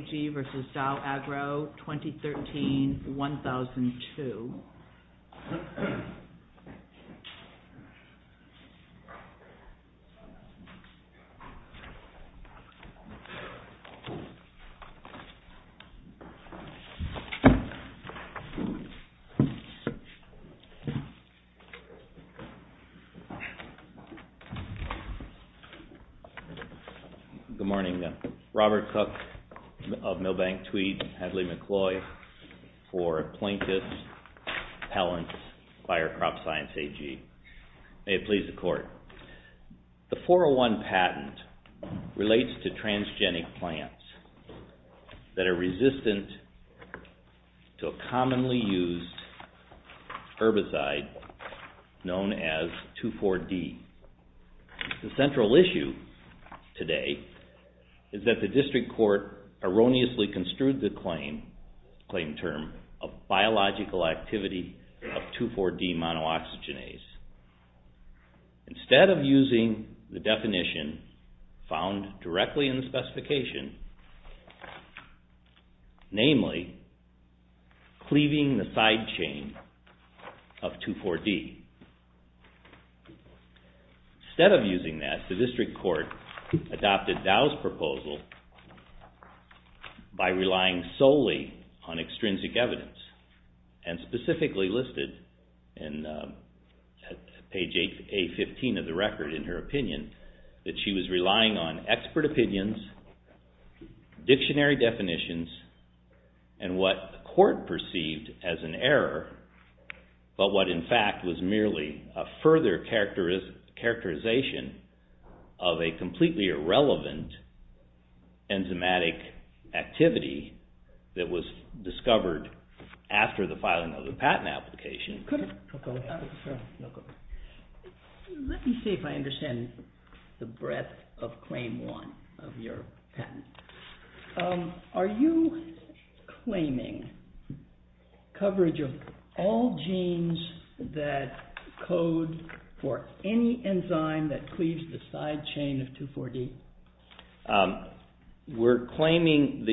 2013-2002. Robert Cook of Milbank Tweed and Hadley McCloy for Plaintiffs. The 401 patent relates to transgenic plants that are resistant to a commonly used herbicide known as 2,4-D. The central issue today is that the district court erroneously construed the claim term of biological activity of 2,4-D monooxygenase instead of using the definition found directly in the specification, namely cleaving the side chain of 2,4-D. Instead of using that, the district court adopted Dow's proposal by relying solely on extrinsic evidence and specifically listed in page 815 of the record in her opinion that she was relying on expert opinions, dictionary definitions, and what the court perceived as an error but what in fact was merely a further characterization of a completely irrelevant enzymatic activity that was discovered after the filing of the patent application. Let me see if I understand the breadth of claim one of your patent. Are you claiming coverage of all genes that code for any enzyme that cleaves the side chain of 2,4-D? We're claiming,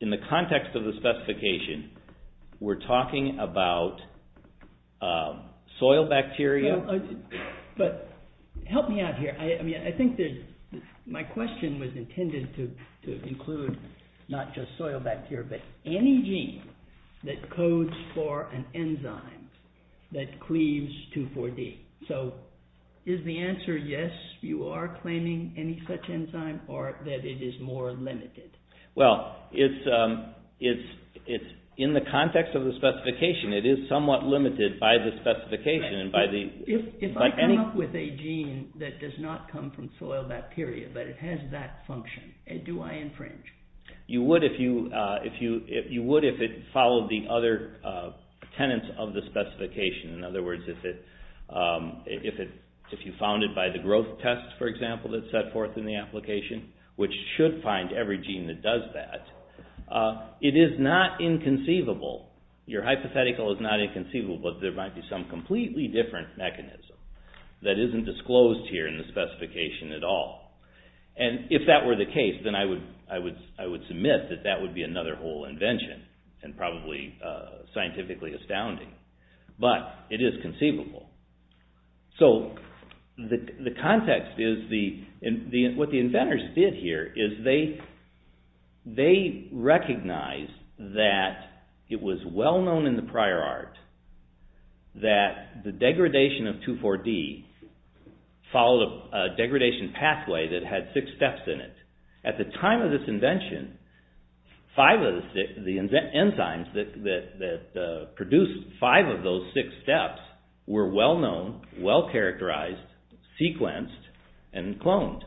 in the context of the specification, we're talking about soil bacteria. Help me out here. I think my question was intended to include not just soil bacteria but any gene that codes for an enzyme that cleaves 2,4-D. So, is the answer yes, you are claiming any such enzyme or that it is more limited? Well, in the context of the specification, it is somewhat limited by the specification. If I come up with a gene that does not come from soil bacteria but it has that function, do I infringe? You would if it followed the other tenets of the specification. In other words, if you found it by the growth test, for example, that's set forth in the application, which should find every gene that does that. It is not inconceivable, your hypothetical is not inconceivable, but there might be some completely different mechanism that isn't disclosed here in the specification at all. If that were the case, then I would submit that that would be another whole invention and probably scientifically astounding. But, it is conceivable. So, the context is, what the inventors did here is they recognized that it was well known in the prior art that the degradation of 2,4-D followed a degradation pathway that had six steps in it. At the time of this invention, five of the enzymes that produced five of those six steps were well known, well characterized, sequenced, and cloned.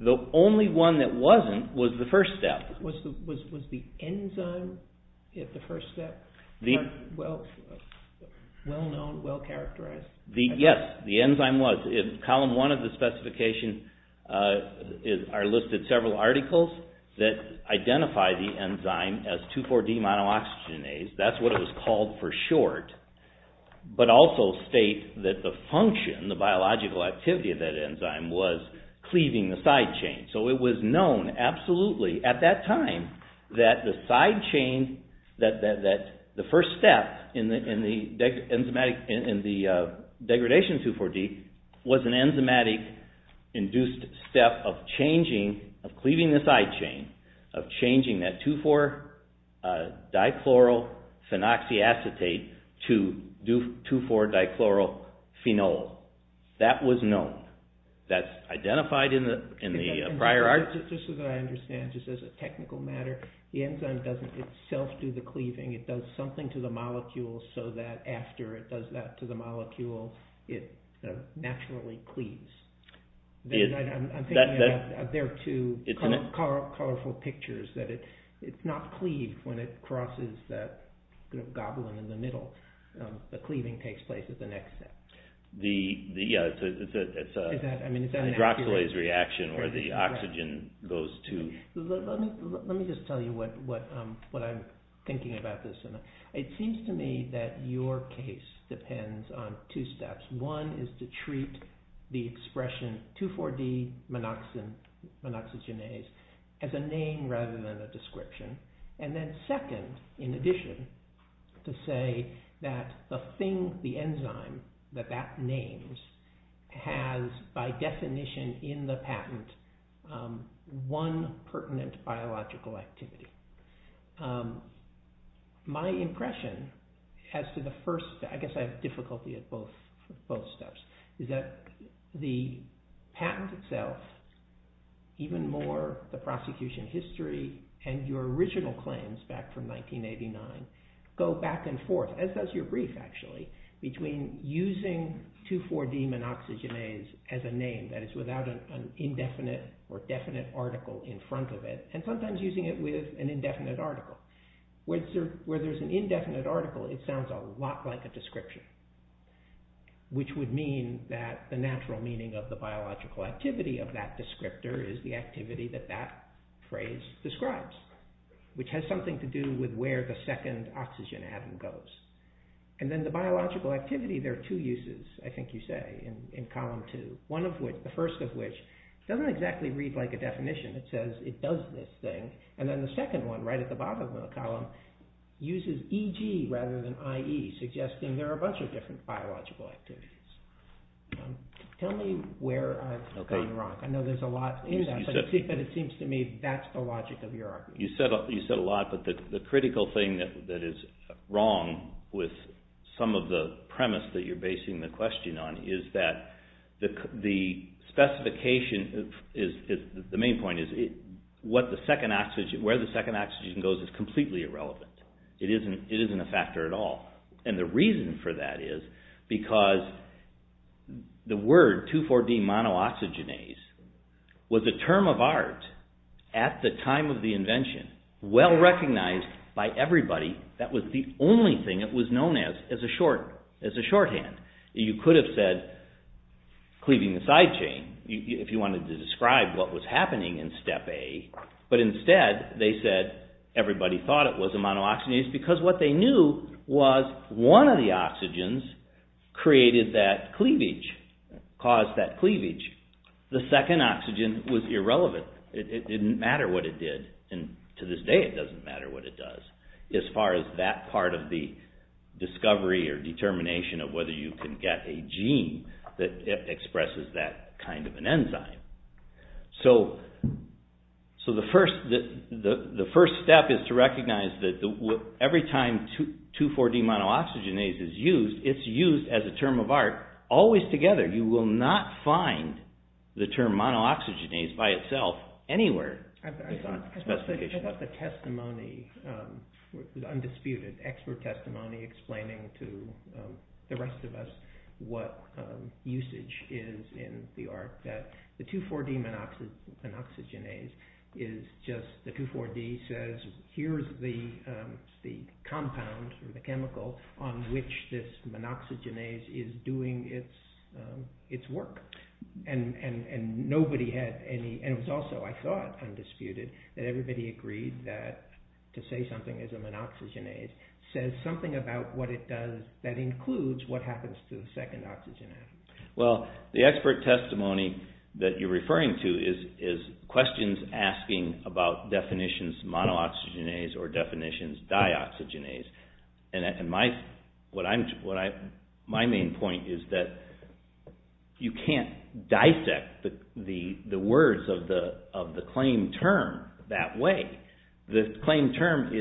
The only one that wasn't was the first step. Was the enzyme at the first step well known, well characterized? Yes, the enzyme was. In column one of the specification are listed several articles that identify the enzyme as 2,4-D monooxygenase. That's what it was called for short, but also state that the function, the biological activity of that enzyme was cleaving the side chain. So, it was known absolutely at that time that the side chain, that the first step in the degradation of 2,4-D was an enzymatic induced step of cleaving the side chain, of changing that 2,4-Dichlorophenoxyacetate to 2,4-Dichlorophenol. That was known. That's identified in the prior art. Just as I understand, just as a technical matter, the enzyme doesn't itself do the cleaving. It does something to the molecule so that after it does that to the molecule, it naturally cleaves. I'm thinking there are two colorful pictures. It's not cleaved when it crosses that goblin in the middle. The cleaving takes place at the next step. It's a hydroxylase reaction where the oxygen goes to... Let me just tell you what I'm thinking about this. It seems to me that your case depends on two steps. One is to treat the expression 2,4-D monoxygenase as a name rather than a description. And then second, in addition, to say that the thing, the enzyme that that names, has by definition in the patent one pertinent biological activity. My impression as to the first, I guess I have difficulty at both steps, is that the patent itself, even more the prosecution history and your original claims back from 1989, go back and forth, as does your brief actually, between using 2,4-D monoxygenase as a name that is without an indefinite or definite article in front of it and sometimes using it with an indefinite article. Where there's an indefinite article, it sounds a lot like a description, which would mean that the natural meaning of the biological activity of that descriptor is the activity that that phrase describes, which has something to do with where the second oxygen atom goes. And then the biological activity, there are two uses, I think you say, in column two. One of which, the first of which, doesn't exactly read like a definition. It says it does this thing. And then the second one, right at the bottom of the column, uses EG rather than IE, suggesting there are a bunch of different biological activities. Tell me where I've gone wrong. I know there's a lot in that, but it seems to me that's the logic of your argument. You said a lot, but the critical thing that is wrong with some of the premise that you're basing the question on is that the main point is where the second oxygen goes is completely irrelevant. It isn't a factor at all. And the reason for that is because the word 2,4-D monooxygenase was a term of art at the time of the invention, well recognized by everybody. That was the only thing it was known as, as a shorthand. You could have said, cleaving the side chain, if you wanted to describe what was happening in step A, but instead they said everybody thought it was a monooxygenase because what they knew was one of the oxygens created that cleavage, caused that cleavage. The second oxygen was irrelevant. It didn't matter what it did, and to this day it doesn't matter what it does as far as that part of the discovery or determination of whether you can get a gene that expresses that kind of an enzyme. So the first step is to recognize that every time 2,4-D monooxygenase is used, it's used as a term of art always together. You will not find the term monooxygenase by itself anywhere in the specification. I thought the testimony was undisputed, expert testimony, explaining to the rest of us what usage is in the art, that the 2,4-D monooxygenase is just, the 2,4-D says, here's the compound or the chemical on which this monooxygenase is doing its work. And nobody had any, and it was also, I thought, undisputed, that everybody agreed that to say something is a monooxygenase says something about what it does that includes what happens to the second oxygenase. Well, the expert testimony that you're referring to is questions asking about definitions monooxygenase or definitions dioxygenase. And my main point is that you can't dissect the words of the claim term that way. The claim term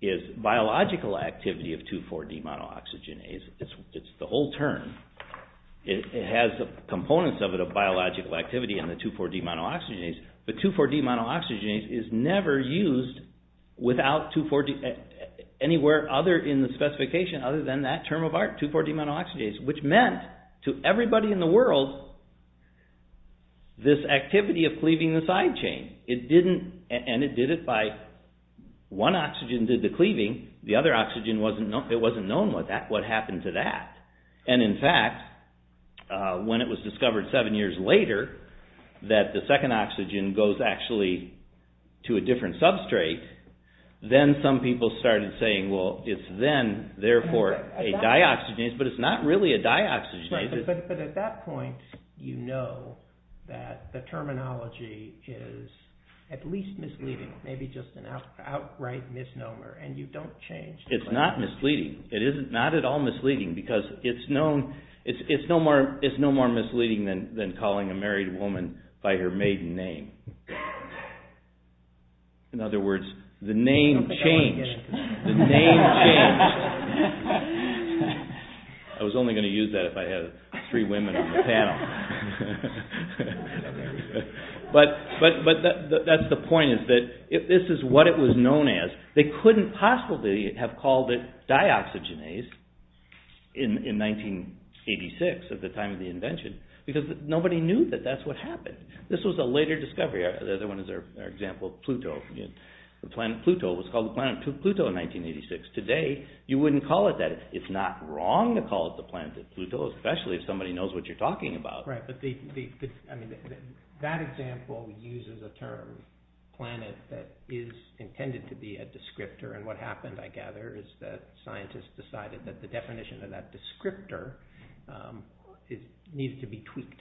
is biological activity of 2,4-D monooxygenase. It's the whole term. It has components of it of biological activity in the 2,4-D monooxygenase, but 2,4-D monooxygenase is never used without 2,4-D, anywhere other in the specification other than that term of art, 2,4-D monooxygenase, which meant to everybody in the world this activity of cleaving the side chain. It didn't, and it did it by, one oxygen did the cleaving, the other oxygen wasn't, it wasn't known what happened to that. And, in fact, when it was discovered seven years later that the second oxygen goes actually to a different substrate, then some people started saying, well, it's then, therefore, a dioxygenase, but it's not really a dioxygenase. But at that point, you know that the terminology is at least misleading, maybe just an outright misnomer, and you don't change the claim. It's not misleading. It is not at all misleading because it's no more misleading than calling a married woman by her maiden name. In other words, the name changed. The name changed. I was only going to use that if I had three women on the panel. But that's the point is that if this is what it was known as, they couldn't possibly have called it dioxygenase in 1986 at the time of the invention because nobody knew that that's what happened. This was a later discovery. The other one is our example of Pluto. The planet Pluto was called the planet Pluto in 1986. Today, you wouldn't call it that. It's not wrong to call it the planet Pluto, especially if somebody knows what you're talking about. That example uses a term, planet, that is intended to be a descriptor. What happened, I gather, is that scientists decided that the definition of that descriptor needed to be tweaked.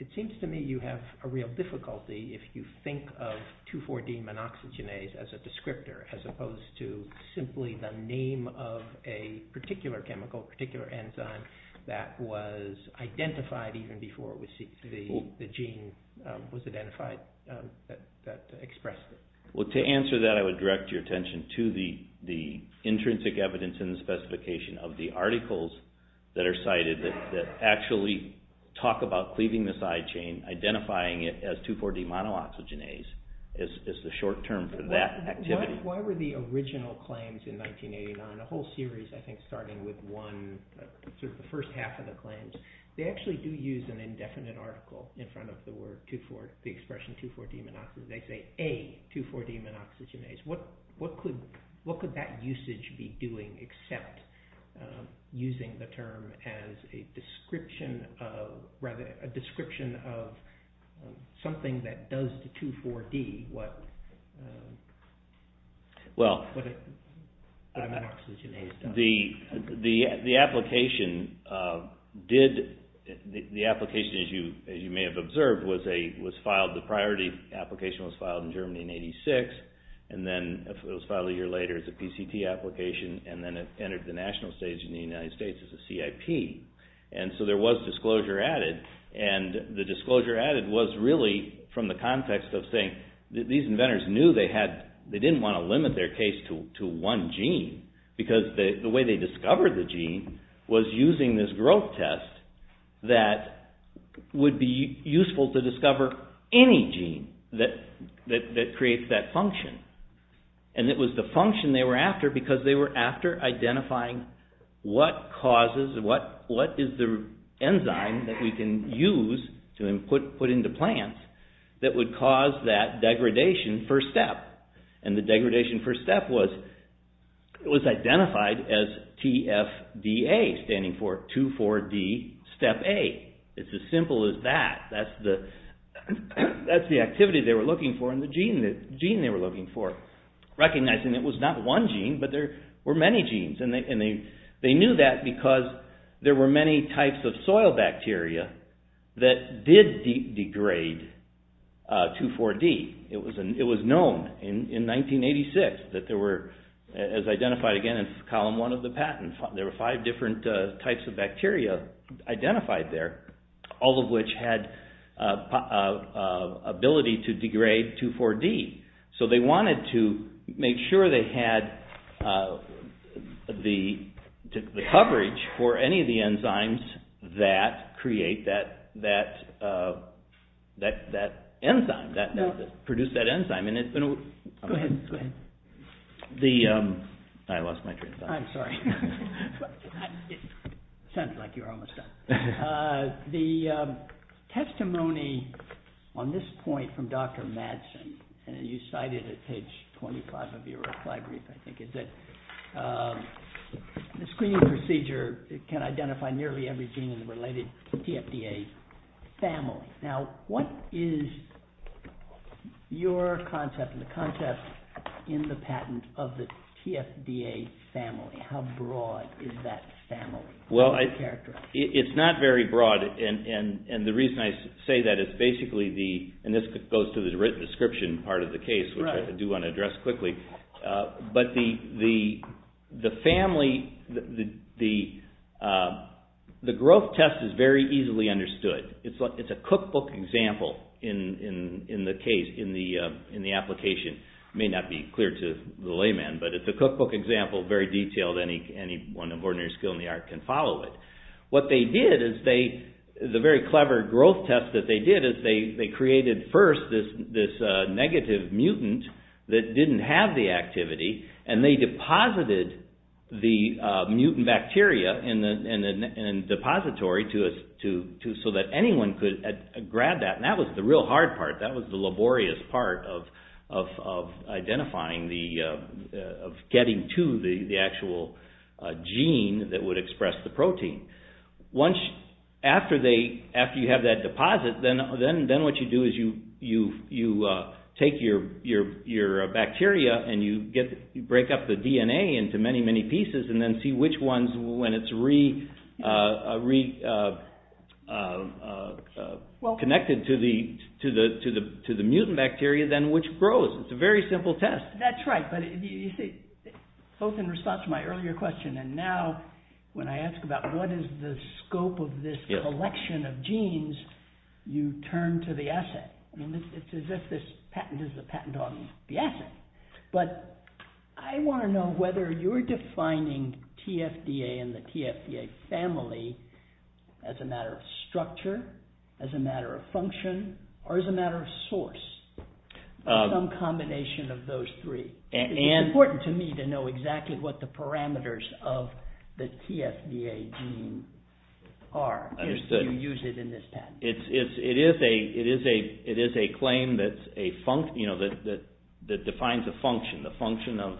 It seems to me you have a real difficulty if you think of 2,4-D monoxygenase as a descriptor as opposed to simply the name of a particular chemical, a particular enzyme that was identified even before the gene was identified that expressed it. To answer that, I would direct your attention to the intrinsic evidence in the specification of the articles that are cited that actually talk about cleaving the side chain, identifying it as 2,4-D monoxygenase as the short term for that activity. Why were the original claims in 1989, a whole series I think starting with one, sort of the first half of the claims, they actually do use an indefinite article in front of the expression 2,4-D monoxygenase. They say, A, 2,4-D monoxygenase. What could that usage be doing except using the term as a description of something that does to 2,4-D what monoxygenase does? The application, as you may have observed, was filed. The priority application was filed in Germany in 1986 and then it was filed a year later as a PCT application and then it entered the national stage in the United States as a CIP. There was disclosure added and the disclosure added was really from the context of saying that these inventors knew they didn't want to limit their case to one gene because the way they discovered the gene was using this growth test that would be useful to discover any gene that creates that function. It was the function they were after because they were after identifying what causes, what is the enzyme that we can use to put into plants that would cause that degradation first step. The degradation first step was identified as TFDA, standing for 2,4-D step A. It's as simple as that. That's the activity they were looking for and the gene they were looking for. Recognizing it was not one gene but there were many genes and they knew that because there were many types of soil bacteria that did degrade 2,4-D. It was known in 1986 that there were, as identified again in column one of the patent, there were five different types of bacteria identified there, all of which had ability to degrade 2,4-D. They wanted to make sure they had the coverage for any of the enzymes that create that enzyme, that produce that enzyme. Go ahead. I lost my train of thought. I'm sorry. It sounds like you're almost done. The testimony on this point from Dr. Madsen, and you cited it at page 25 of your reply brief, I think, is that the screening procedure can identify nearly every gene in the related TFDA family. What is your concept and the concept in the patent of the TFDA family? How broad is that family? It's not very broad. The reason I say that is basically, and this goes to the written description part of the case, which I do want to address quickly, but the family, the growth test is very easily understood. It's a cookbook example in the case, in the application. It may not be clear to the layman, but it's a cookbook example, very detailed. Anyone of ordinary skill in the art can follow it. What they did is they, the very clever growth test that they did is they created first this negative mutant that didn't have the activity, and they deposited the mutant bacteria in a depository so that anyone could grab that. That was the real hard part. That was the laborious part of identifying, of getting to the actual gene that would express the protein. After you have that deposit, then what you do is you take your bacteria and you break up the DNA into many, many pieces and then see which ones, when it's reconnected to the mutant bacteria, then which grows. It's a very simple test. That's right, but you see, both in response to my earlier question and now when I ask about what is the scope of this collection of genes, you turn to the asset. It's as if this patent is a patent on the asset. I want to know whether you're defining TFDA and the TFDA family as a matter of structure, as a matter of function, or as a matter of source, some combination of those three. It's important to me to know exactly what the parameters of the TFDA gene are, so you use it in this patent. It is a claim that defines a function, the function of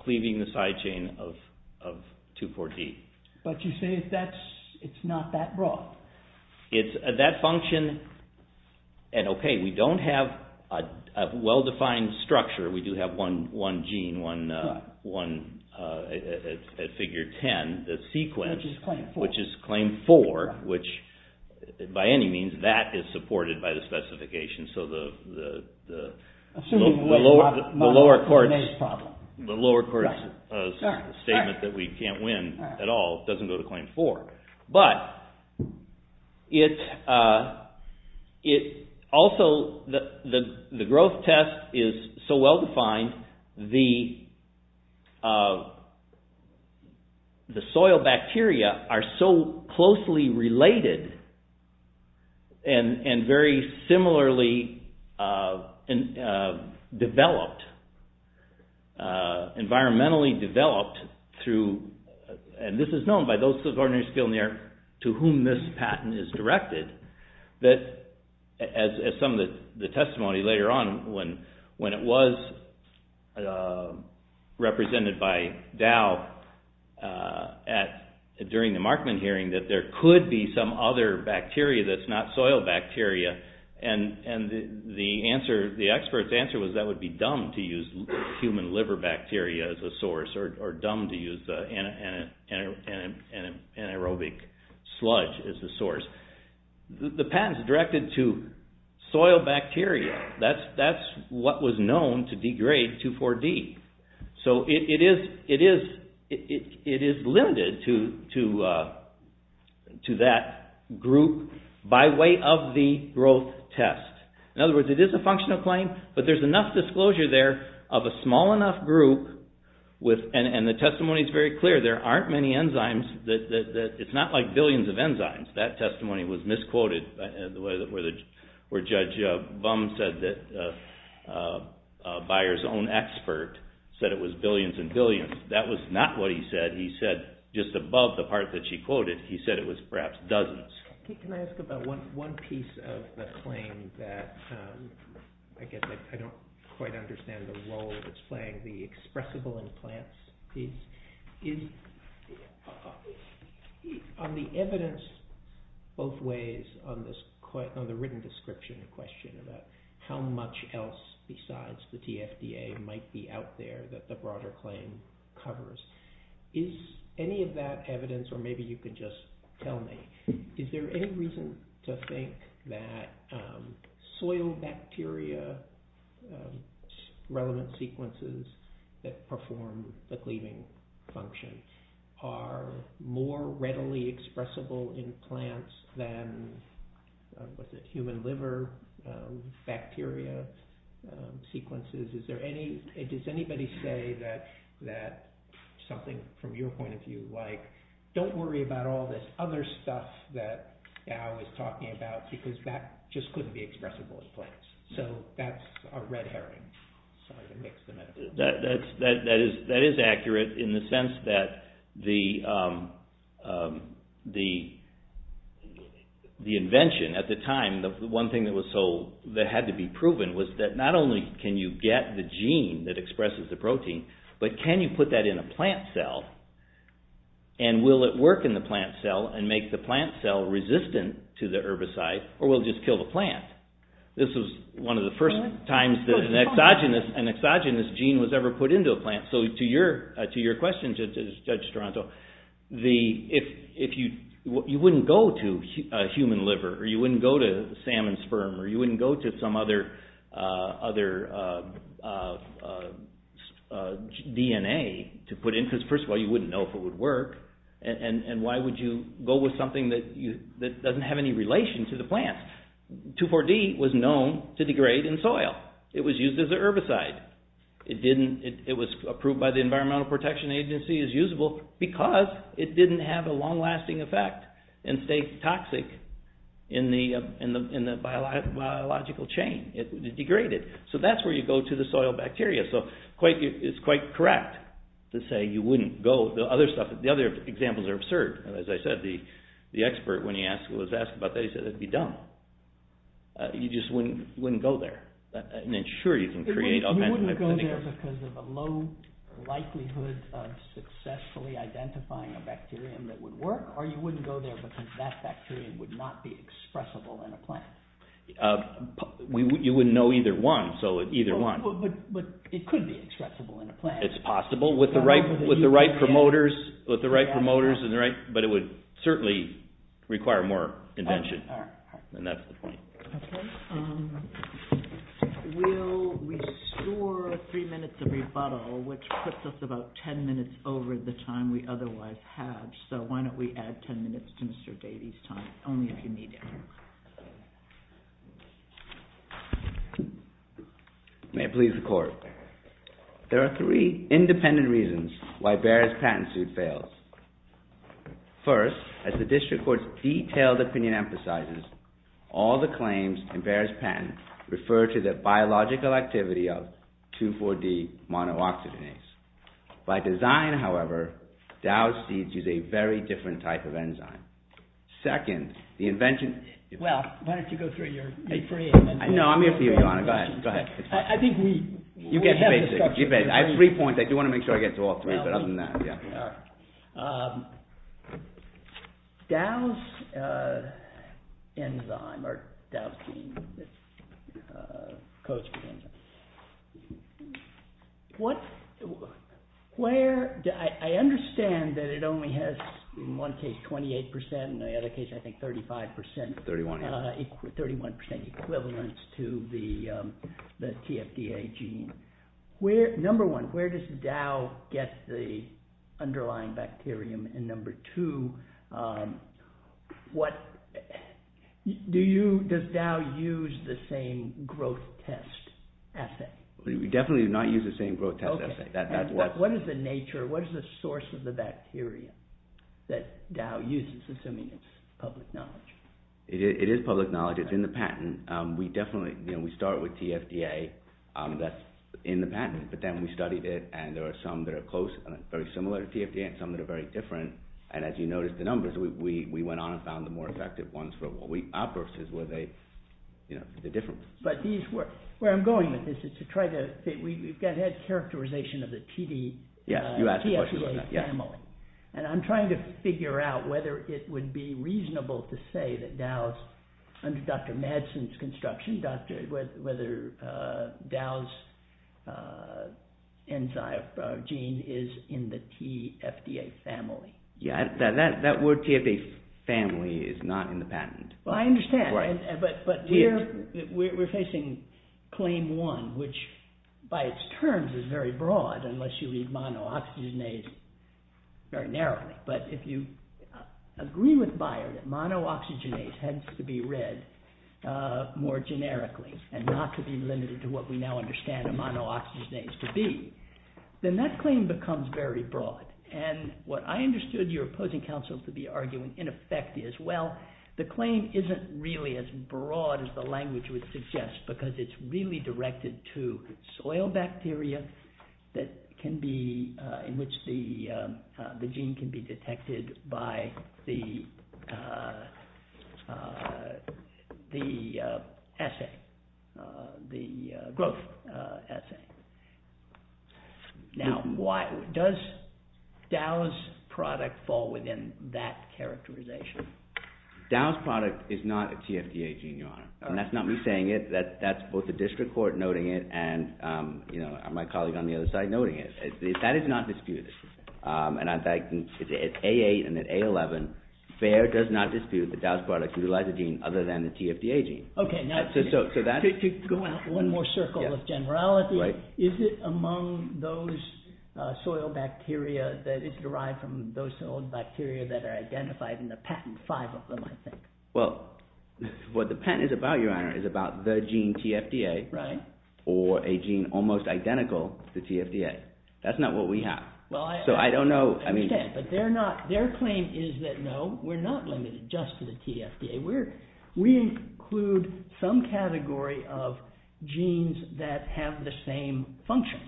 cleaving the side chain of 2,4-D. But you say it's not that broad. That function, and okay, we don't have a well-defined structure. We do have one gene, one at Figure 10, the sequence, which is Claim 4, which by any means, that is supported by the specification. So the lower court's statement that we can't win at all doesn't go to Claim 4. But it also, the growth test is so well-defined, the soil bacteria are so closely related and very similarly developed, environmentally developed through, and this is known by those of ordinary skill in the area to whom this patent is directed, that as some of the testimony later on, when it was represented by Dow during the Markman hearing, that there could be some other bacteria that's not soil bacteria. And the expert's answer was that would be dumb to use human liver bacteria as a source, or dumb to use an anaerobic sludge as a source. The patent is directed to soil bacteria. That's what was known to degrade 2,4-D. So it is limited to that group by way of the growth test. In other words, it is a functional claim, but there's enough disclosure there of a small enough group, and the testimony is very clear, there aren't many enzymes, it's not like billions of enzymes. That testimony was misquoted, where Judge Bum said that Beyer's own expert said it was billions and billions. That was not what he said. He said just above the part that she quoted, he said it was perhaps dozens. Can I ask about one piece of the claim that I guess I don't quite understand the role it's playing, the expressible implants? On the evidence both ways, on the written description question about how much else besides the TFDA might be out there that the broader claim covers, is any of that evidence, or maybe you could just tell me, is there any reason to think that soil bacteria, relevant sequences that perform the cleaving function, are more readily expressible implants than human liver bacteria sequences? Does anybody say that something from your point of view, like, don't worry about all this other stuff that Al was talking about, because that just couldn't be expressible implants. So that's a red herring. That is accurate in the sense that the invention at the time, the one thing that had to be proven was that not only can you get the gene that expresses the protein, but can you put that in a plant cell, and will it work in the plant cell and make the plant cell resistant to the herbicide, or will it just kill the plant? This was one of the first times that an exogenous gene was ever put into a plant. So to your question, Judge Toronto, you wouldn't go to human liver, or you wouldn't go to salmon sperm, or you wouldn't go to some other DNA to put in, because first of all you wouldn't know if it would work, and why would you go with something that doesn't have any relation to the plant? 2,4-D was known to degrade in soil. It was used as a herbicide. It was approved by the Environmental Protection Agency as usable because it didn't have a long-lasting effect and stay toxic in the biological chain. It degraded. So that's where you go to the soil bacteria. So it's quite correct to say you wouldn't go. The other examples are absurd. As I said, the expert when he was asked about that, he said, You wouldn't go there because of a low likelihood of successfully identifying a bacterium that would work, or you wouldn't go there because that bacterium would not be expressible in a plant. You wouldn't know either one, so either one. But it could be expressible in a plant. It's possible with the right promoters, but it would certainly require more invention. And that's the point. Okay. We'll restore three minutes of rebuttal, which puts us about ten minutes over the time we otherwise have. So why don't we add ten minutes to Mr. Dadey's time, only if you need it. May it please the Court. There are three independent reasons why Bayer's patent suit fails. First, as the District Court's detailed opinion emphasizes, all the claims in Bayer's patent refer to the biological activity of 2,4-D monooxygenase. By design, however, Dow seeds use a very different type of enzyme. Second, the invention— Well, why don't you go through your— No, I'm here for you, Your Honor. Go ahead. I think we— You get the basic. I have three points. I do want to make sure I get to all three, but other than that, yeah. All right. Dow's enzyme, or Dow's gene, codes for the enzyme. What— Where— I understand that it only has, in one case, 28 percent, in the other case, I think, 35 percent. 31. 31 percent equivalence to the TFDA gene. Number one, where does Dow get the underlying bacterium? And number two, what— Do you— Does Dow use the same growth test assay? We definitely do not use the same growth test assay. Okay. That's what— What is the nature— What is the source of the bacterium that Dow uses, assuming it's public knowledge? It is public knowledge. It's in the patent. And we definitely— You know, we start with TFDA. That's in the patent. But then we studied it, and there are some that are close, very similar to TFDA, and some that are very different. And as you notice, the numbers, we went on and found the more effective ones for what we— Ours is where they— You know, they're different. But these were— Where I'm going with this is to try to— We've had characterization of the TD— Yeah. You asked the question about that. TFDA family. And I'm trying to figure out whether it would be reasonable to say that Dow's, under Dr. Madsen's construction, whether Dow's enzyme gene is in the TFDA family. Yeah. That word, TFDA family, is not in the patent. Well, I understand. Right. But we're facing claim one, which by its terms is very broad, unless you read monooxygenase very narrowly. But if you agree with Bayer that monooxygenase has to be read more generically and not to be limited to what we now understand a monooxygenase to be, then that claim becomes very broad. And what I understood your opposing counsel to be arguing, in effect, is, well, the claim isn't really as broad as the language would suggest because it's really directed to soil bacteria in which the gene can be detected by the assay, the growth assay. Now, does Dow's product fall within that characterization? Dow's product is not a TFDA gene, Your Honor. And that's not me saying it. That's both the district court noting it, and my colleague on the other side noting it. That is not disputed. And at A8 and at A11, Bayer does not dispute that Dow's product is a lysogene other than the TFDA gene. OK. Now, to go out one more circle of generality, is it among those soil bacteria that it's derived from those soil bacteria that are identified in the patent, five of them, I think? Well, what the patent is about, Your Honor, is about the gene TFDA or a gene almost identical to TFDA. That's not what we have. So I don't know. I understand. But their claim is that, no, we're not limited just to the TFDA. We include some category of genes that have the same function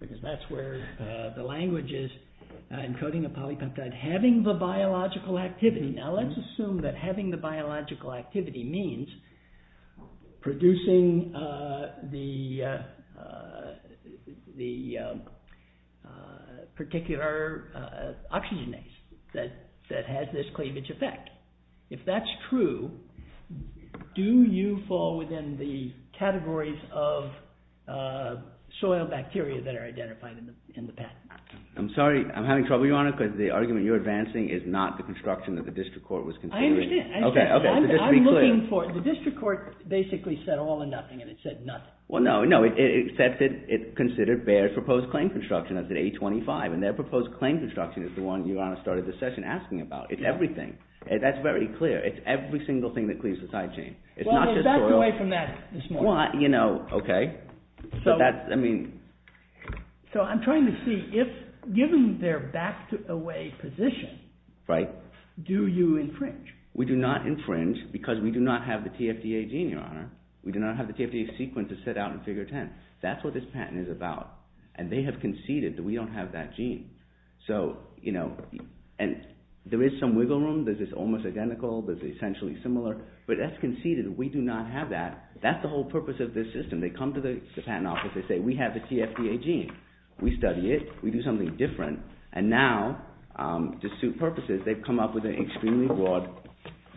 because that's where the language is, encoding a polypeptide, having the biological activity. Now, let's assume that having the biological activity means producing the particular oxygenase that has this cleavage effect. If that's true, do you fall within the categories of soil bacteria that are identified in the patent? I'm sorry. I'm having trouble, Your Honor, because the argument you're advancing is not the construction that the district court was considering. I understand. Okay. Okay. Just to be clear. I'm looking for, the district court basically said all or nothing, and it said nothing. Well, no. No. It said that it considered Bayer's proposed claim construction as an A25, and their proposed claim construction is the one Your Honor started this session asking about. It's everything. That's very clear. It's every single thing that cleaves the side chain. It's not just soil. Well, they backed away from that this morning. Well, you know, okay. But that's, I mean... So I'm trying to see if, given their back-to-away position, do you infringe? We do not infringe because we do not have the TFDA gene, Your Honor. We do not have the TFDA sequence as set out in Figure 10. That's what this patent is about. And they have conceded that we don't have that gene. So, you know, and there is some wiggle room. There's this almost identical. There's essentially similar. But that's conceded. We do not have that. That's the whole purpose of this system. And they come to the patent office. They say, we have the TFDA gene. We study it. We do something different. And now, to suit purposes, they've come up with an extremely broad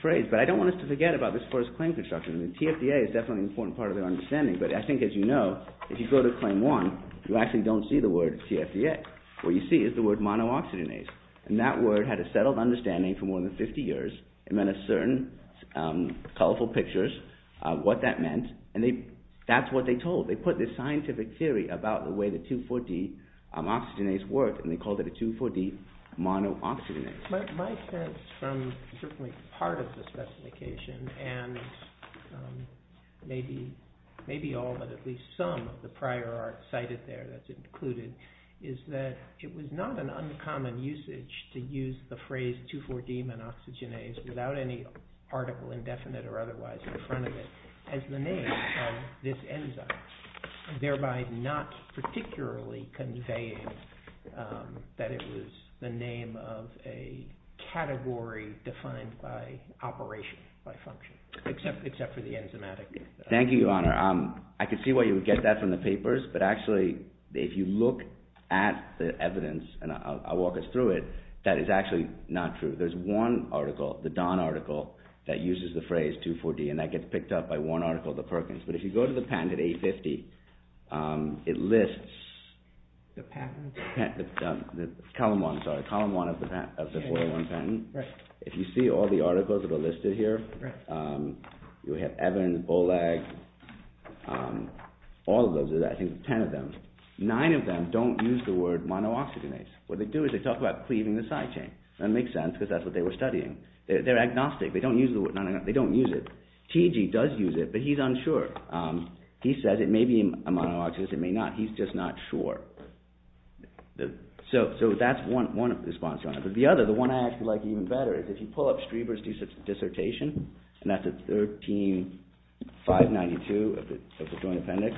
phrase. But I don't want us to forget about this first claim construction. The TFDA is definitely an important part of their understanding. But I think, as you know, if you go to Claim 1, you actually don't see the word TFDA. What you see is the word monooxygenase. And that word had a settled understanding for more than 50 years. It meant a certain colorful pictures of what that meant. And that's what they told. They put this scientific theory about the way the 2,4-D oxygenase worked. And they called it a 2,4-D monooxygenase. My sense from certainly part of the specification and maybe all but at least some of the prior art cited there that's included is that it was not an uncommon usage to use the phrase 2,4-D monooxygenase without any article indefinite or otherwise in front of it as the name of this enzyme. Thereby not particularly conveying that it was the name of a category defined by operation, by function. Except for the enzymatic. Thank you, Your Honor. I can see why you would get that from the papers. But actually, if you look at the evidence, and I'll walk us through it, that is actually not true. There's one article, the Don article, that uses the phrase 2,4-D. And that gets picked up by one article, the Perkins. But if you go to the patent at 850, it lists... The patent? Column 1, sorry. Column 1 of the 401 patent. If you see all the articles that are listed here, you have Evan, Bollag, all of those. I think 10 of them. Nine of them don't use the word monooxygenase. What they do is they talk about cleaving the side chain. That makes sense, because that's what they were studying. They're agnostic. They don't use it. TG does use it, but he's unsure. He says it may be a monooxygenase, it may not. He's just not sure. So that's one response, Your Honor. But the other, the one I actually like even better, is if you pull up Streber's dissertation, and that's at 13-592 of the Joint Appendix.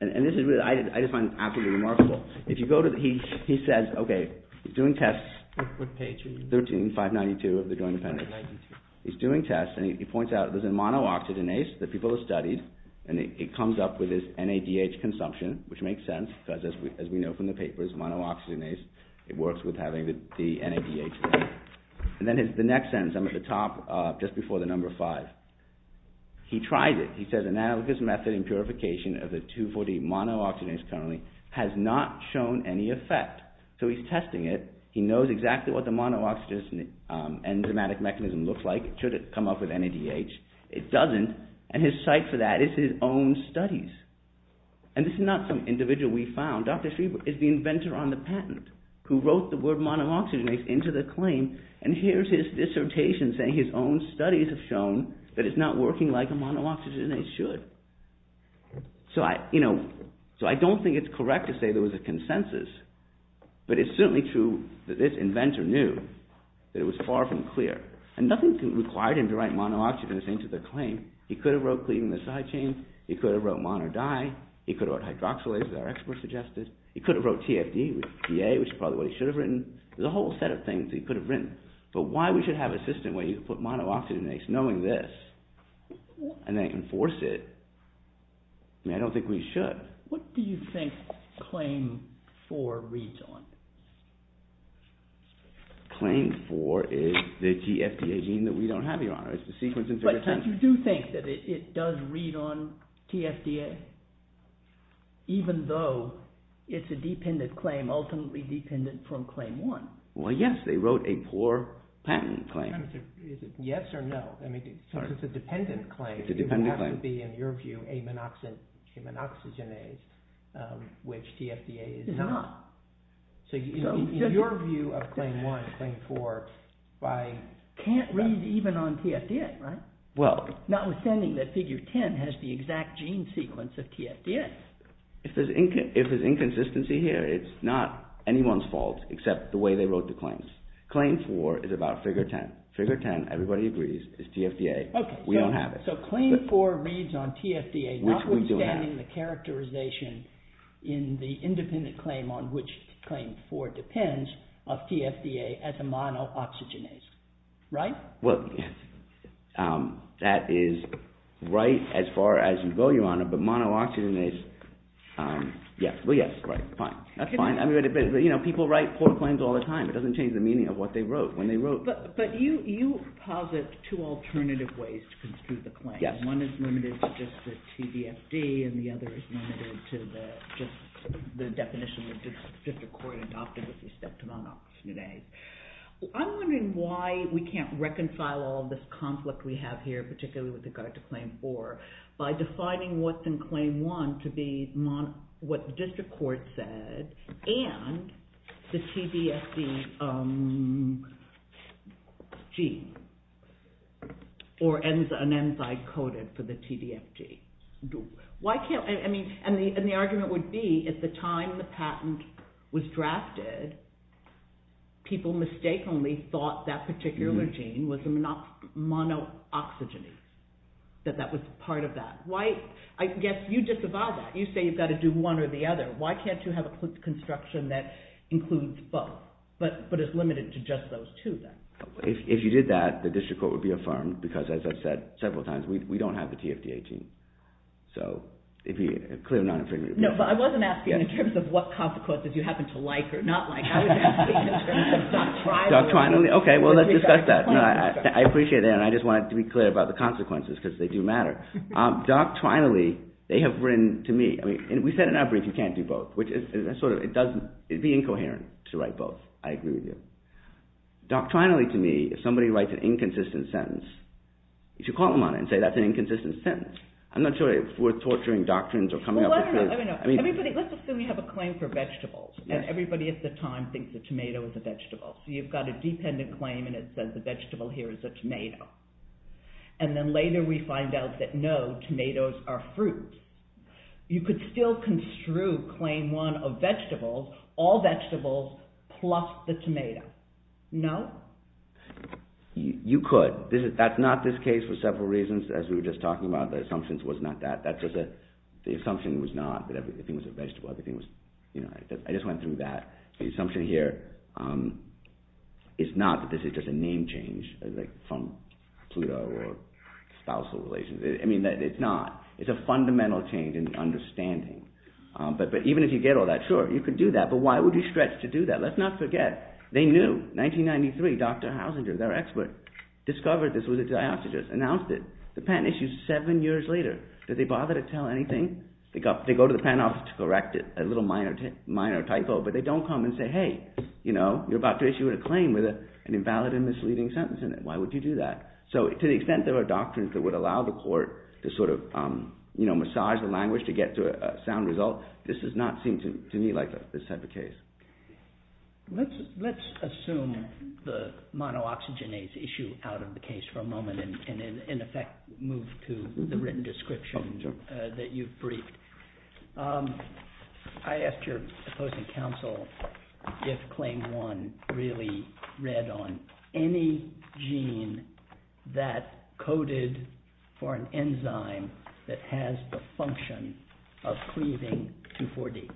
And this is what I just find absolutely remarkable. He says, okay, he's doing tests. What page are you on? 13-592 of the Joint Appendix. 592. He's doing tests, and he points out there's a monooxygenase that people have studied, and it comes up with this NADH consumption, which makes sense, because as we know from the papers, monooxygenase, it works with having the NADH. And then the next sentence, I'm at the top, just before the number five. He tries it. He says, an analogous method in purification of the 2,4-D monooxygenase currently has not shown any effect. So he's testing it. He knows exactly what the monooxygenase enzymatic mechanism looks like. It should come up with NADH. It doesn't, and his site for that is his own studies. And this is not some individual we found. Dr. Streber is the inventor on the patent, who wrote the word monooxygenase into the claim, and here's his dissertation saying his own studies have shown that it's not working like a monooxygenase should. So I don't think it's correct to say there was a consensus, but it's certainly true that this inventor knew that it was far from clear. And nothing required him to write monooxygenase into the claim. He could have wrote cleaving the side chain. He could have wrote monodye. He could have wrote hydroxylase, as our expert suggested. He could have wrote TFD, which is probably what he should have written. There's a whole set of things he could have written. But why we should have a system where you put monooxygenase knowing this, and they enforce it, I mean, I don't think we should. What do you think claim 4 reads on? Claim 4 is the TFD gene that we don't have here, Your Honor. It's the sequence interferotension. But you do think that it does read on TFD, even though it's a dependent claim, ultimately dependent from claim 1? Well, yes. They wrote a poor patent claim. Is it yes or no? It's a dependent claim. It's a dependent claim. It doesn't have to be, in your view, a monooxygenase, which TFD is not. So in your view of claim 1, claim 4, can't read even on TFD, right? Notwithstanding that figure 10 has the exact gene sequence of TFD. If there's inconsistency here, it's not anyone's fault, except the way they wrote the claims. Claim 4 is about figure 10. Figure 10, everybody agrees, is TFD. We don't have it. So claim 4 reads on TFD, notwithstanding the characterization in the independent claim on which claim 4 depends of TFD as a monooxygenase, right? Well, that is right as far as you go, Your Honor. But monooxygenase, yes. Well, yes, right, fine. That's fine. People write poor claims all the time. It doesn't change the meaning of what they wrote, when they wrote. But you posit two alternative ways to construe the claim. One is limited to just the TDFD, and the other is limited to just the definition that the district court adopted with respect to monooxygenase. I'm wondering why we can't reconcile all of this conflict we have here, particularly with regard to claim 4, by defining what's in claim 1 to be what the district court said and the TDFD gene, or an enzyme coded for the TDFD. And the argument would be, at the time the patent was drafted, people mistakenly thought that particular gene was monooxygenase, that that was part of that. I guess you disavow that. You say you've got to do one or the other. Why can't you have a construction that includes both, but is limited to just those two, then? If you did that, the district court would be affirmed, because as I've said several times, we don't have the TDFD gene. So it would be a clear non-inferiority. No, but I wasn't asking in terms of what consequences you happen to like or not like. I was asking in terms of doctrinally. Doctrinally? Okay, well, let's discuss that. I appreciate that, and I just wanted to be clear about the consequences, because they do matter. Doctrinally, they have written to me, and we said in our brief, you can't do both, which is sort of, it would be incoherent to write both. I agree with you. Doctrinally to me, if somebody writes an inconsistent sentence, you should call them on it and say that's an inconsistent sentence. I'm not sure it's worth torturing doctrines or coming up with claims. Well, I don't know. Let's assume we have a claim for vegetables, and everybody at the time thinks a tomato is a vegetable. So you've got a dependent claim, and it says the vegetable here is a tomato. And then later we find out that no, tomatoes are fruit. You could still construe claim one of vegetables, all vegetables plus the tomato. No? You could. That's not this case for several reasons. As we were just talking about, the assumption was not that. The assumption was not that everything was a vegetable. I just went through that. The assumption here is not that this is just a name change from Pluto or spousal relations. It's not. It's a fundamental change in understanding. But even if you get all that, sure, you could do that, but why would you stretch to do that? Let's not forget, they knew. 1993, Dr. Hausinger, their expert, discovered this was a diastasis, announced it. The patent issued seven years later. Did they bother to tell anything? They go to the patent office to correct it, a little minor typo, but they don't come and say, hey, you're about to issue a claim with an invalid and misleading sentence in it. So to the extent there are doctrines that would allow the court to massage the language to get to a sound result, this does not seem to me like this type of case. Let's assume the monooxygenase issue out of the case for a moment and in effect move to the written description that you've briefed. I asked your opposing counsel if Claim 1 really read on any gene that coded for an enzyme that has the function of cleaving 2,4-D.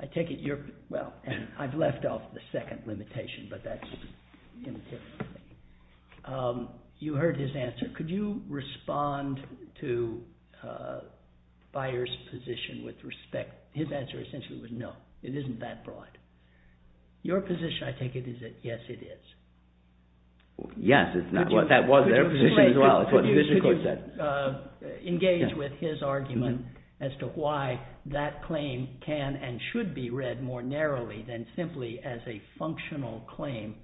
I take it you're... Well, I've left off the second limitation, but that's... You heard his answer. Could you respond to Beyer's position with respect... His answer essentially was no, it isn't that broad. Your position, I take it, is that yes, it is. Yes, that was their position as well. Could you engage with his argument as to why that claim can and should be read more narrowly than simply as a functional claim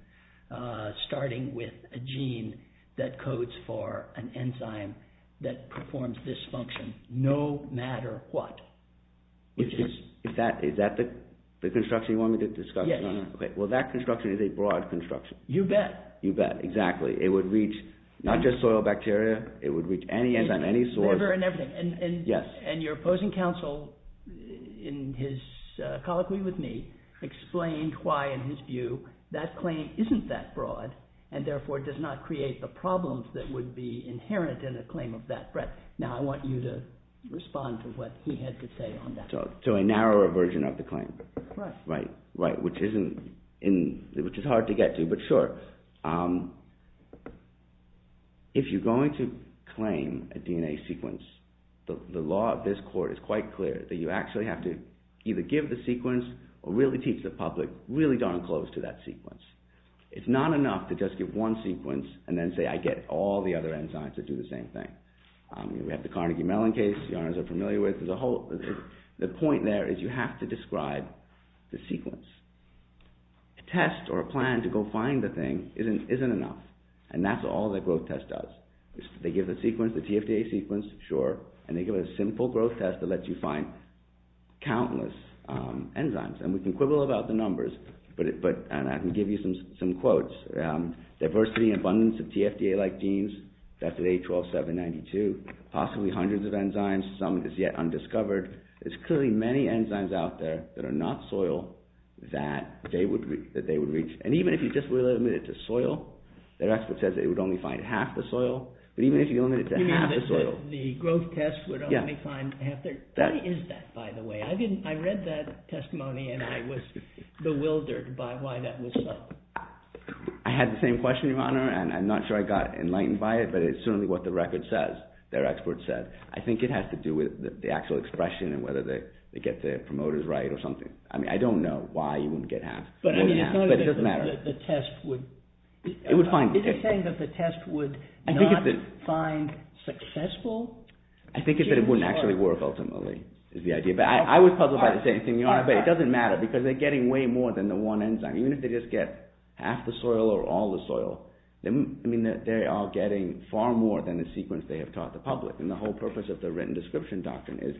starting with a gene that codes for an enzyme that performs this function no matter what? Is that the construction you want me to discuss? Yes. Well, that construction is a broad construction. You bet. You bet, exactly. It would reach not just soil bacteria. It would reach any enzyme, any source. Whatever and everything. Yes. And your opposing counsel in his colloquy with me explained why, in his view, that claim isn't that broad and therefore does not create the problems that would be inherent in a claim of that breadth. Now I want you to respond to what he had to say on that. So a narrower version of the claim. Right. Right, which is hard to get to. But sure. If you're going to claim a DNA sequence, the law of this court is quite clear that you actually have to either give the sequence or really teach the public really darn close to that sequence. It's not enough to just give one sequence and then say I get all the other enzymes that do the same thing. We have the Carnegie-Mellon case you're familiar with. The point there is you have to describe the sequence. A test or a plan to go find the thing isn't enough. And that's all the growth test does. They give the sequence, the TFDA sequence, sure, and they give a simple growth test that lets you find countless enzymes. And we can quibble about the numbers, and I can give you some quotes. Diversity and abundance of TFDA-like genes, death at age 12, 7, 92. Possibly hundreds of enzymes. Some is yet undiscovered. There's clearly many enzymes out there that are not soil that they would reach. And even if you just limited it to soil, their expert says it would only find half the soil. But even if you limited it to half the soil... You mean the growth test would only find half the... Yeah. Why is that, by the way? I read that testimony, and I was bewildered by why that was so. I had the same question, Your Honor, and I'm not sure I got enlightened by it, but it's certainly what the record says. Their expert said. I think it has to do with the actual expression and whether they get their promoters right or something. I don't know why you wouldn't get half. But it doesn't matter. Is it saying that the test would not find successful? I think it's that it wouldn't actually work, ultimately, is the idea. But I was puzzled by the same thing, Your Honor, but it doesn't matter because they're getting way more than the one enzyme. Even if they just get half the soil or all the soil, they are getting far more than the sequence they have taught the public. And the whole purpose of the written description doctrine is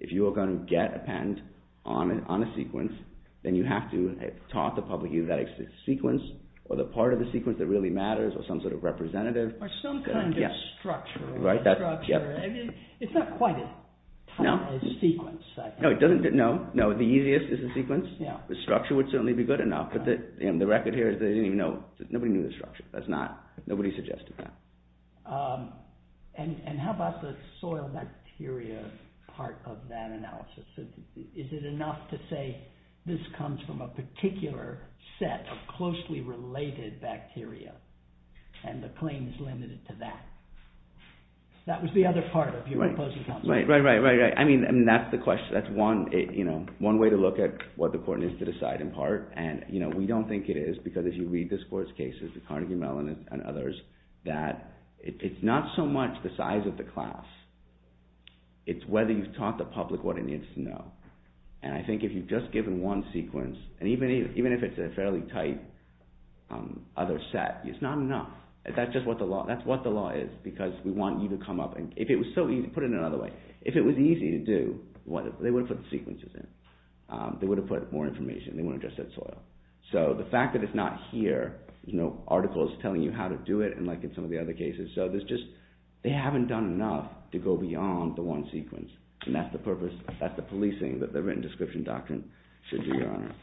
if you are going to get a patent on a sequence, then you have to have taught the public either that sequence or the part of the sequence that really matters or some sort of representative. Or some kind of structure. Right. It's not quite a sequence. No, the easiest is the sequence. The structure would certainly be good enough, but the record here is they didn't even know. Nobody knew the structure. That's not, nobody suggested that. And how about the soil bacteria part of that analysis? Is it enough to say this comes from a particular set of closely related bacteria and the claim is limited to that? That was the other part of your proposal. Right, right, right, right, right. I mean, that's the question. That's one way to look at what the court needs to decide, in part. And we don't think it is because if you read this court's cases, the Carnegie Mellon and others, that it's not so much the size of the class. It's whether you've taught the public what it needs to know. And I think if you've just given one sequence, and even if it's a fairly tight other set, it's not enough. That's just what the law, that's what the law is because we want you to come up and if it was so easy, put it another way. If it was easy to do, they would have put the sequences in. They would have put more information. They wouldn't have just said soil. So the fact that it's not here, there's no articles telling you how to do it, unlike in some of the other cases. They haven't done enough to go beyond the one sequence. And that's the policing that the written description doctrine should be, Your Honor.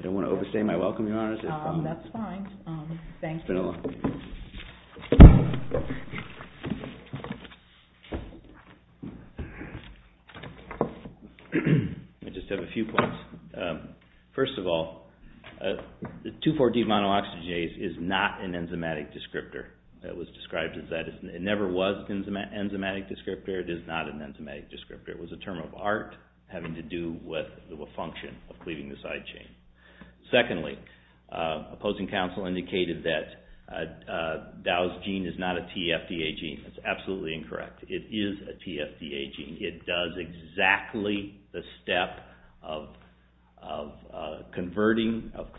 I don't want to overstay my welcome, Your Honor. That's fine. Thank you. It's been a long day. Let me just have a few points. First of all, 2,4-D monooxygenase is not an enzymatic descriptor. That was described as that. It never was an enzymatic descriptor. It is not an enzymatic descriptor. It was a term of art having to do with the function of cleaving the side chain. Secondly, opposing counsel indicated that Dow's gene is not a TFDA gene. That's absolutely incorrect. It is a TFDA gene. It does exactly the step of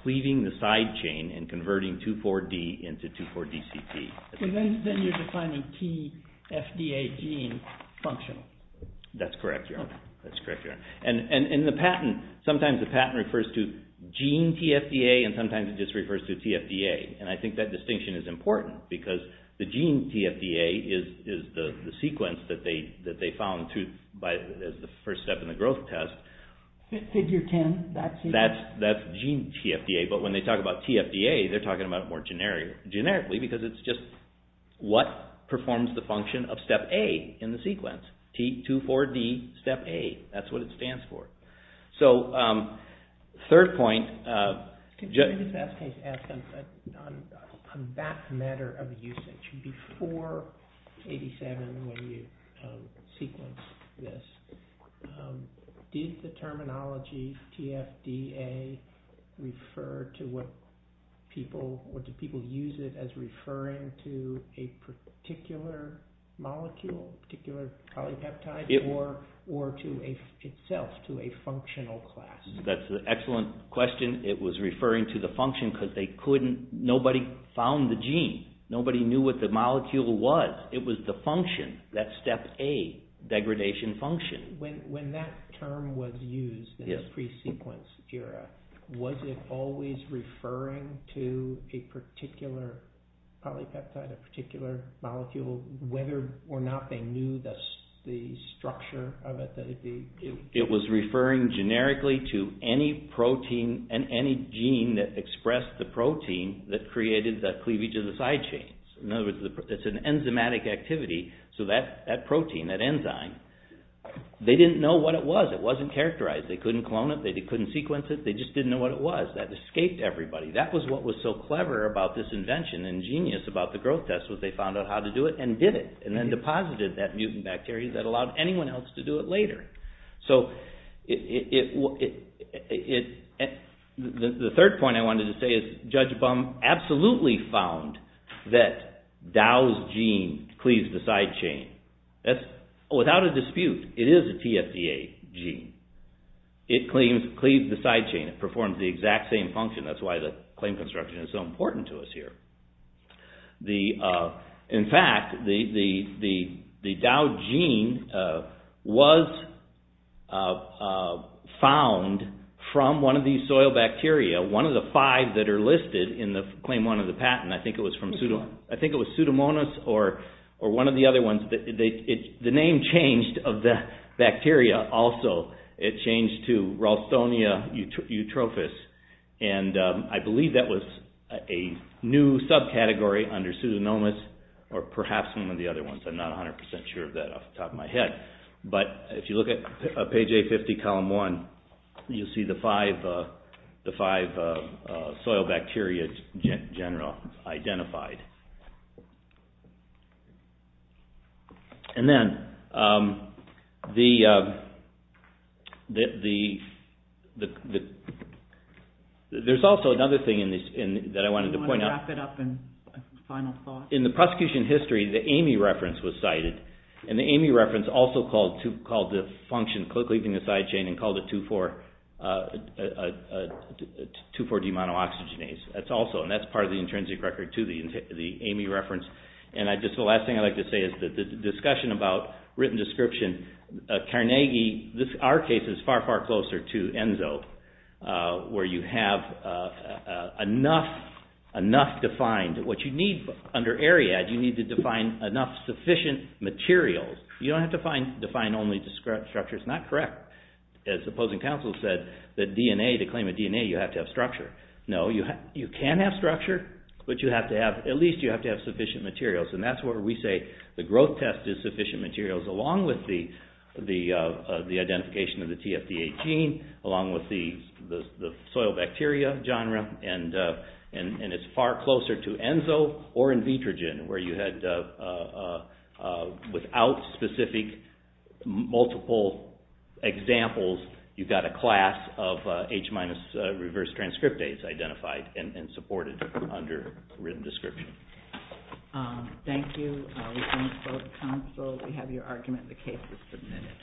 cleaving the side chain and converting 2,4-D into 2,4-DCT. Then you're defining TFDA gene functional. That's correct, Your Honor. That's correct, Your Honor. And sometimes the patent refers to gene TFDA and sometimes it just refers to TFDA. And I think that distinction is important because the gene TFDA is the sequence that they found as the first step in the growth test. Figure 10, that sequence? That's gene TFDA. But when they talk about TFDA, they're talking about it more generically because it's just what performs the function of step A in the sequence. T, 2,4-D, step A. That's what it stands for. So, third point. Can I just ask a question on that matter of usage? Before 87, when you sequenced this, did the terminology TFDA refer to what people, or did people use it as referring to a particular molecule, a particular polypeptide, or to itself, to a functional class? That's an excellent question. It was referring to the function because nobody found the gene. Nobody knew what the molecule was. It was the function, that step A degradation function. When that term was used in the pre-sequence era, was it always referring to a particular polypeptide, a particular molecule, whether or not they knew the structure of it? It was referring generically to any protein and any gene that expressed the protein that created the cleavage of the side chains. In other words, it's an enzymatic activity, so that protein, that enzyme, they didn't know what it was. It wasn't characterized. They couldn't clone it. They couldn't sequence it. They just didn't know what it was. That escaped everybody. That was what was so clever about this invention and genius about the growth test was they found out how to do it and did it and then deposited that mutant bacteria that allowed anyone else to do it later. The third point I wanted to say is Judge Bum absolutely found that Dow's gene cleaves the side chain. Without a dispute, it is a TFDA gene. It cleaves the side chain. It performs the exact same function. That's why the claim construction is so important to us here. In fact, the Dow gene was found from one of these soil bacteria, one of the five that are listed in claim one of the patent. I think it was Pseudomonas or one of the other ones. The name changed of the bacteria also. It changed to Ralstonia eutrophis. I believe that was a new subcategory under Pseudomonas or perhaps one of the other ones. I'm not 100% sure of that off the top of my head. If you look at page 850, column 1, you'll see the five soil bacteria in general identified. There's also another thing that I wanted to point out. Do you want to wrap it up in a final thought? In the prosecution history, the Amy reference was cited. The Amy reference also called the function, cleaving the side chain, and called it 2,4-D-monooxygenase. the intrinsic record. The Amy reference also called the function The last thing I'd like to say is the discussion about written description. Our case is far, far closer to ENSO where you have enough defined. What you need under AREAD, you need to define enough sufficient materials. You don't have to define only structures. It's not correct. As opposing counsel said, to claim a DNA, you have to have structure. No, you can have structure, but at least you have to have sufficient materials. That's where we say the growth test is sufficient materials along with the identification of the TFD18, along with the soil bacteria genre. It's far closer to ENSO or in vitrogen where you had, without specific multiple examples, you've got a class of H-minus reverse transcriptase that's identified and supported under written description. Thank you. We thank both counsel. We have your argument. The case is submitted.